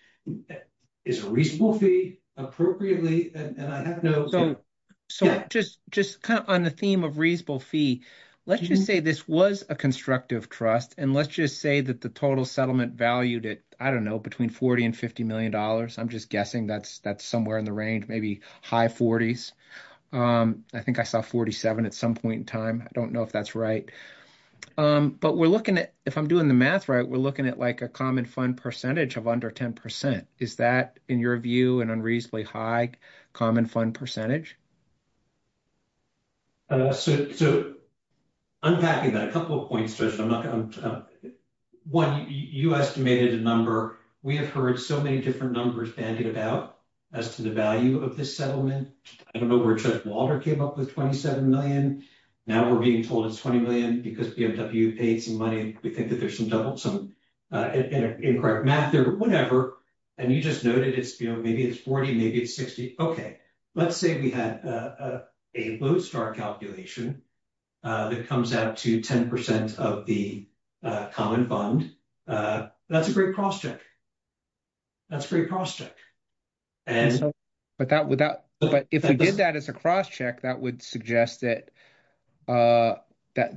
is a reasonable fee appropriately. So just just kind of on the theme of reasonable fee, let's just say this was a constructive trust. And let's just say that the total settlement valued it, I don't know, between 40 and 50 million dollars. I'm just guessing that's that's somewhere in the range, maybe high 40s. I think I saw 47 at some point in time. I don't know if that's right. But we're looking at if I'm doing the math right, we're looking at, like, a common fund percentage of under 10%. Is that, in your view, an unreasonably high common fund percentage? So unpacking that, a couple of points. One, you estimated a number. We have heard so many different numbers bandied about as to the value of this settlement. I don't know where Judge Walter came up with 27 million. Now we're being told it's 20 million because BMW paid some money. We think that there's some double, some incorrect math there, whatever. And you just noted it's, you know, maybe it's 40, maybe it's 60. OK, let's say we had a low start calculation that comes out to 10% of the common fund. That's a great crosscheck. That's a great crosscheck. But if we did that as a crosscheck, that would suggest that the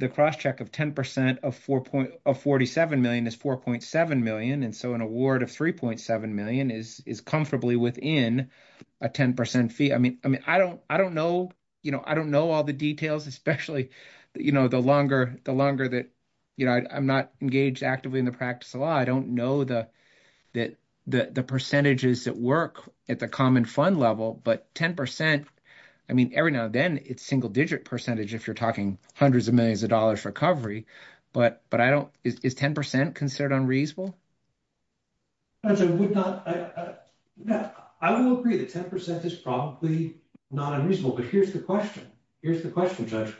crosscheck of 10% of 47 million is 4.7 million. And so an award of 3.7 million is comfortably within a 10% fee. I mean, I mean, I don't I don't know. You know, I don't know all the details, especially, you know, the longer the longer that, you know, I'm not engaged actively in the practice of law. I don't know the that the percentages that work at the common fund level. But 10%, I mean, every now and then it's single digit percentage if you're talking hundreds of millions of dollars recovery. But I don't, is 10% considered unreasonable? I would agree that 10% is probably not unreasonable. But here's the question. Here's the question, Judge.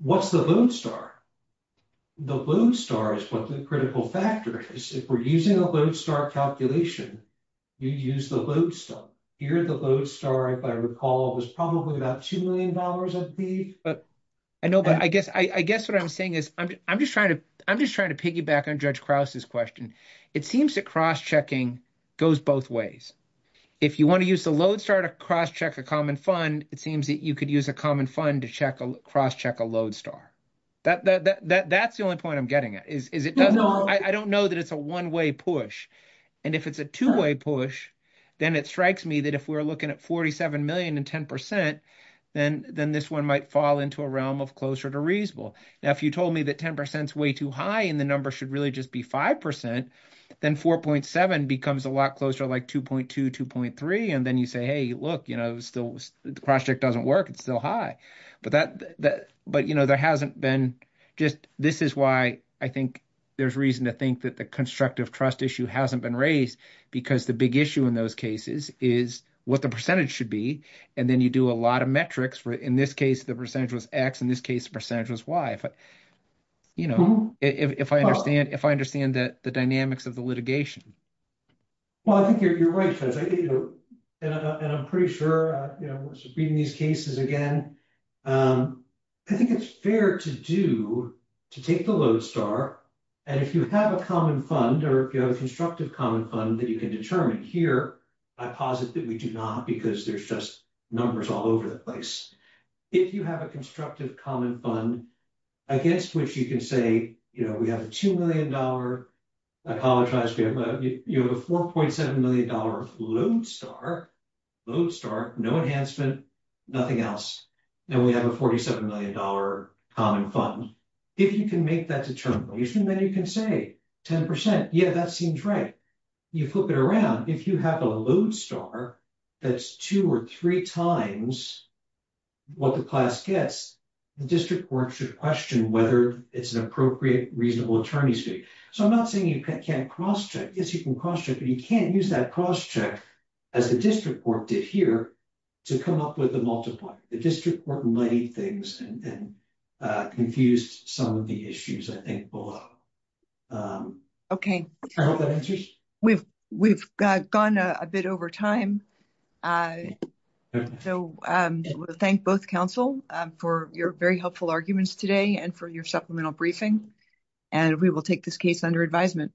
What's the load star? The load star is what the critical factor is. If we're using a load star calculation, you use the load star. Here the load star, if I recall, was probably about $2 million a week. I know, but I guess I guess what I'm saying is, I'm just trying to, I'm just trying to piggyback on Judge Krause's question. It seems to cross checking goes both ways. If you want to use the load start a cross check a common fund, it seems that you could use a common fund to check a cross check a load star. That that that that's the only point I'm getting at is, is it? I don't know that it's a one way push. And if it's a two way push, then it strikes me that if we're looking at 47 million and 10%, then then this one might fall into a realm of closer to reasonable. Now, if you told me that 10% is way too high, and the number should really just be 5%, then 4.7 becomes a lot closer, like 2.2, 2.3. And then you say, hey, look, you know, still the cross check doesn't work. It's still high. But that, but, you know, there hasn't been just this is why I think there's reason to think that the constructive trust issue hasn't been raised. Because the big issue in those cases is what the percentage should be. And then you do a lot of metrics for in this case, the percentage was X. In this case, percentage was Y. You know, if I understand if I understand that the dynamics of the litigation. Well, I think you're right and I'm pretty sure reading these cases again. I think it's fair to do to take the load star. And if you have a common fund, or if you have a constructive common fund that you can determine here, I posit that we do not because there's just numbers all over the place. If you have a constructive common fund against which you can say, you know, we have a $2 million, I apologize, you have a $4.7 million load star, load star, no enhancement, nothing else. And we have a $47 million common fund. If you can make that determination, then you can say 10%. Yeah, that seems right. You flip it around, if you have a load star, that's two or three times what the class gets, the district court should question whether it's an appropriate reasonable attorney's fee. So I'm not saying you can't cross check. Yes, you can cross check, but you can't use that cross check, as the district court did here, to come up with a multiplier. The district court muddy things and confused some of the issues, I think, below. Okay, we've, we've gone a bit over time. So, thank both counsel for your very helpful arguments today and for your supplemental briefing. And we will take this case under advisement.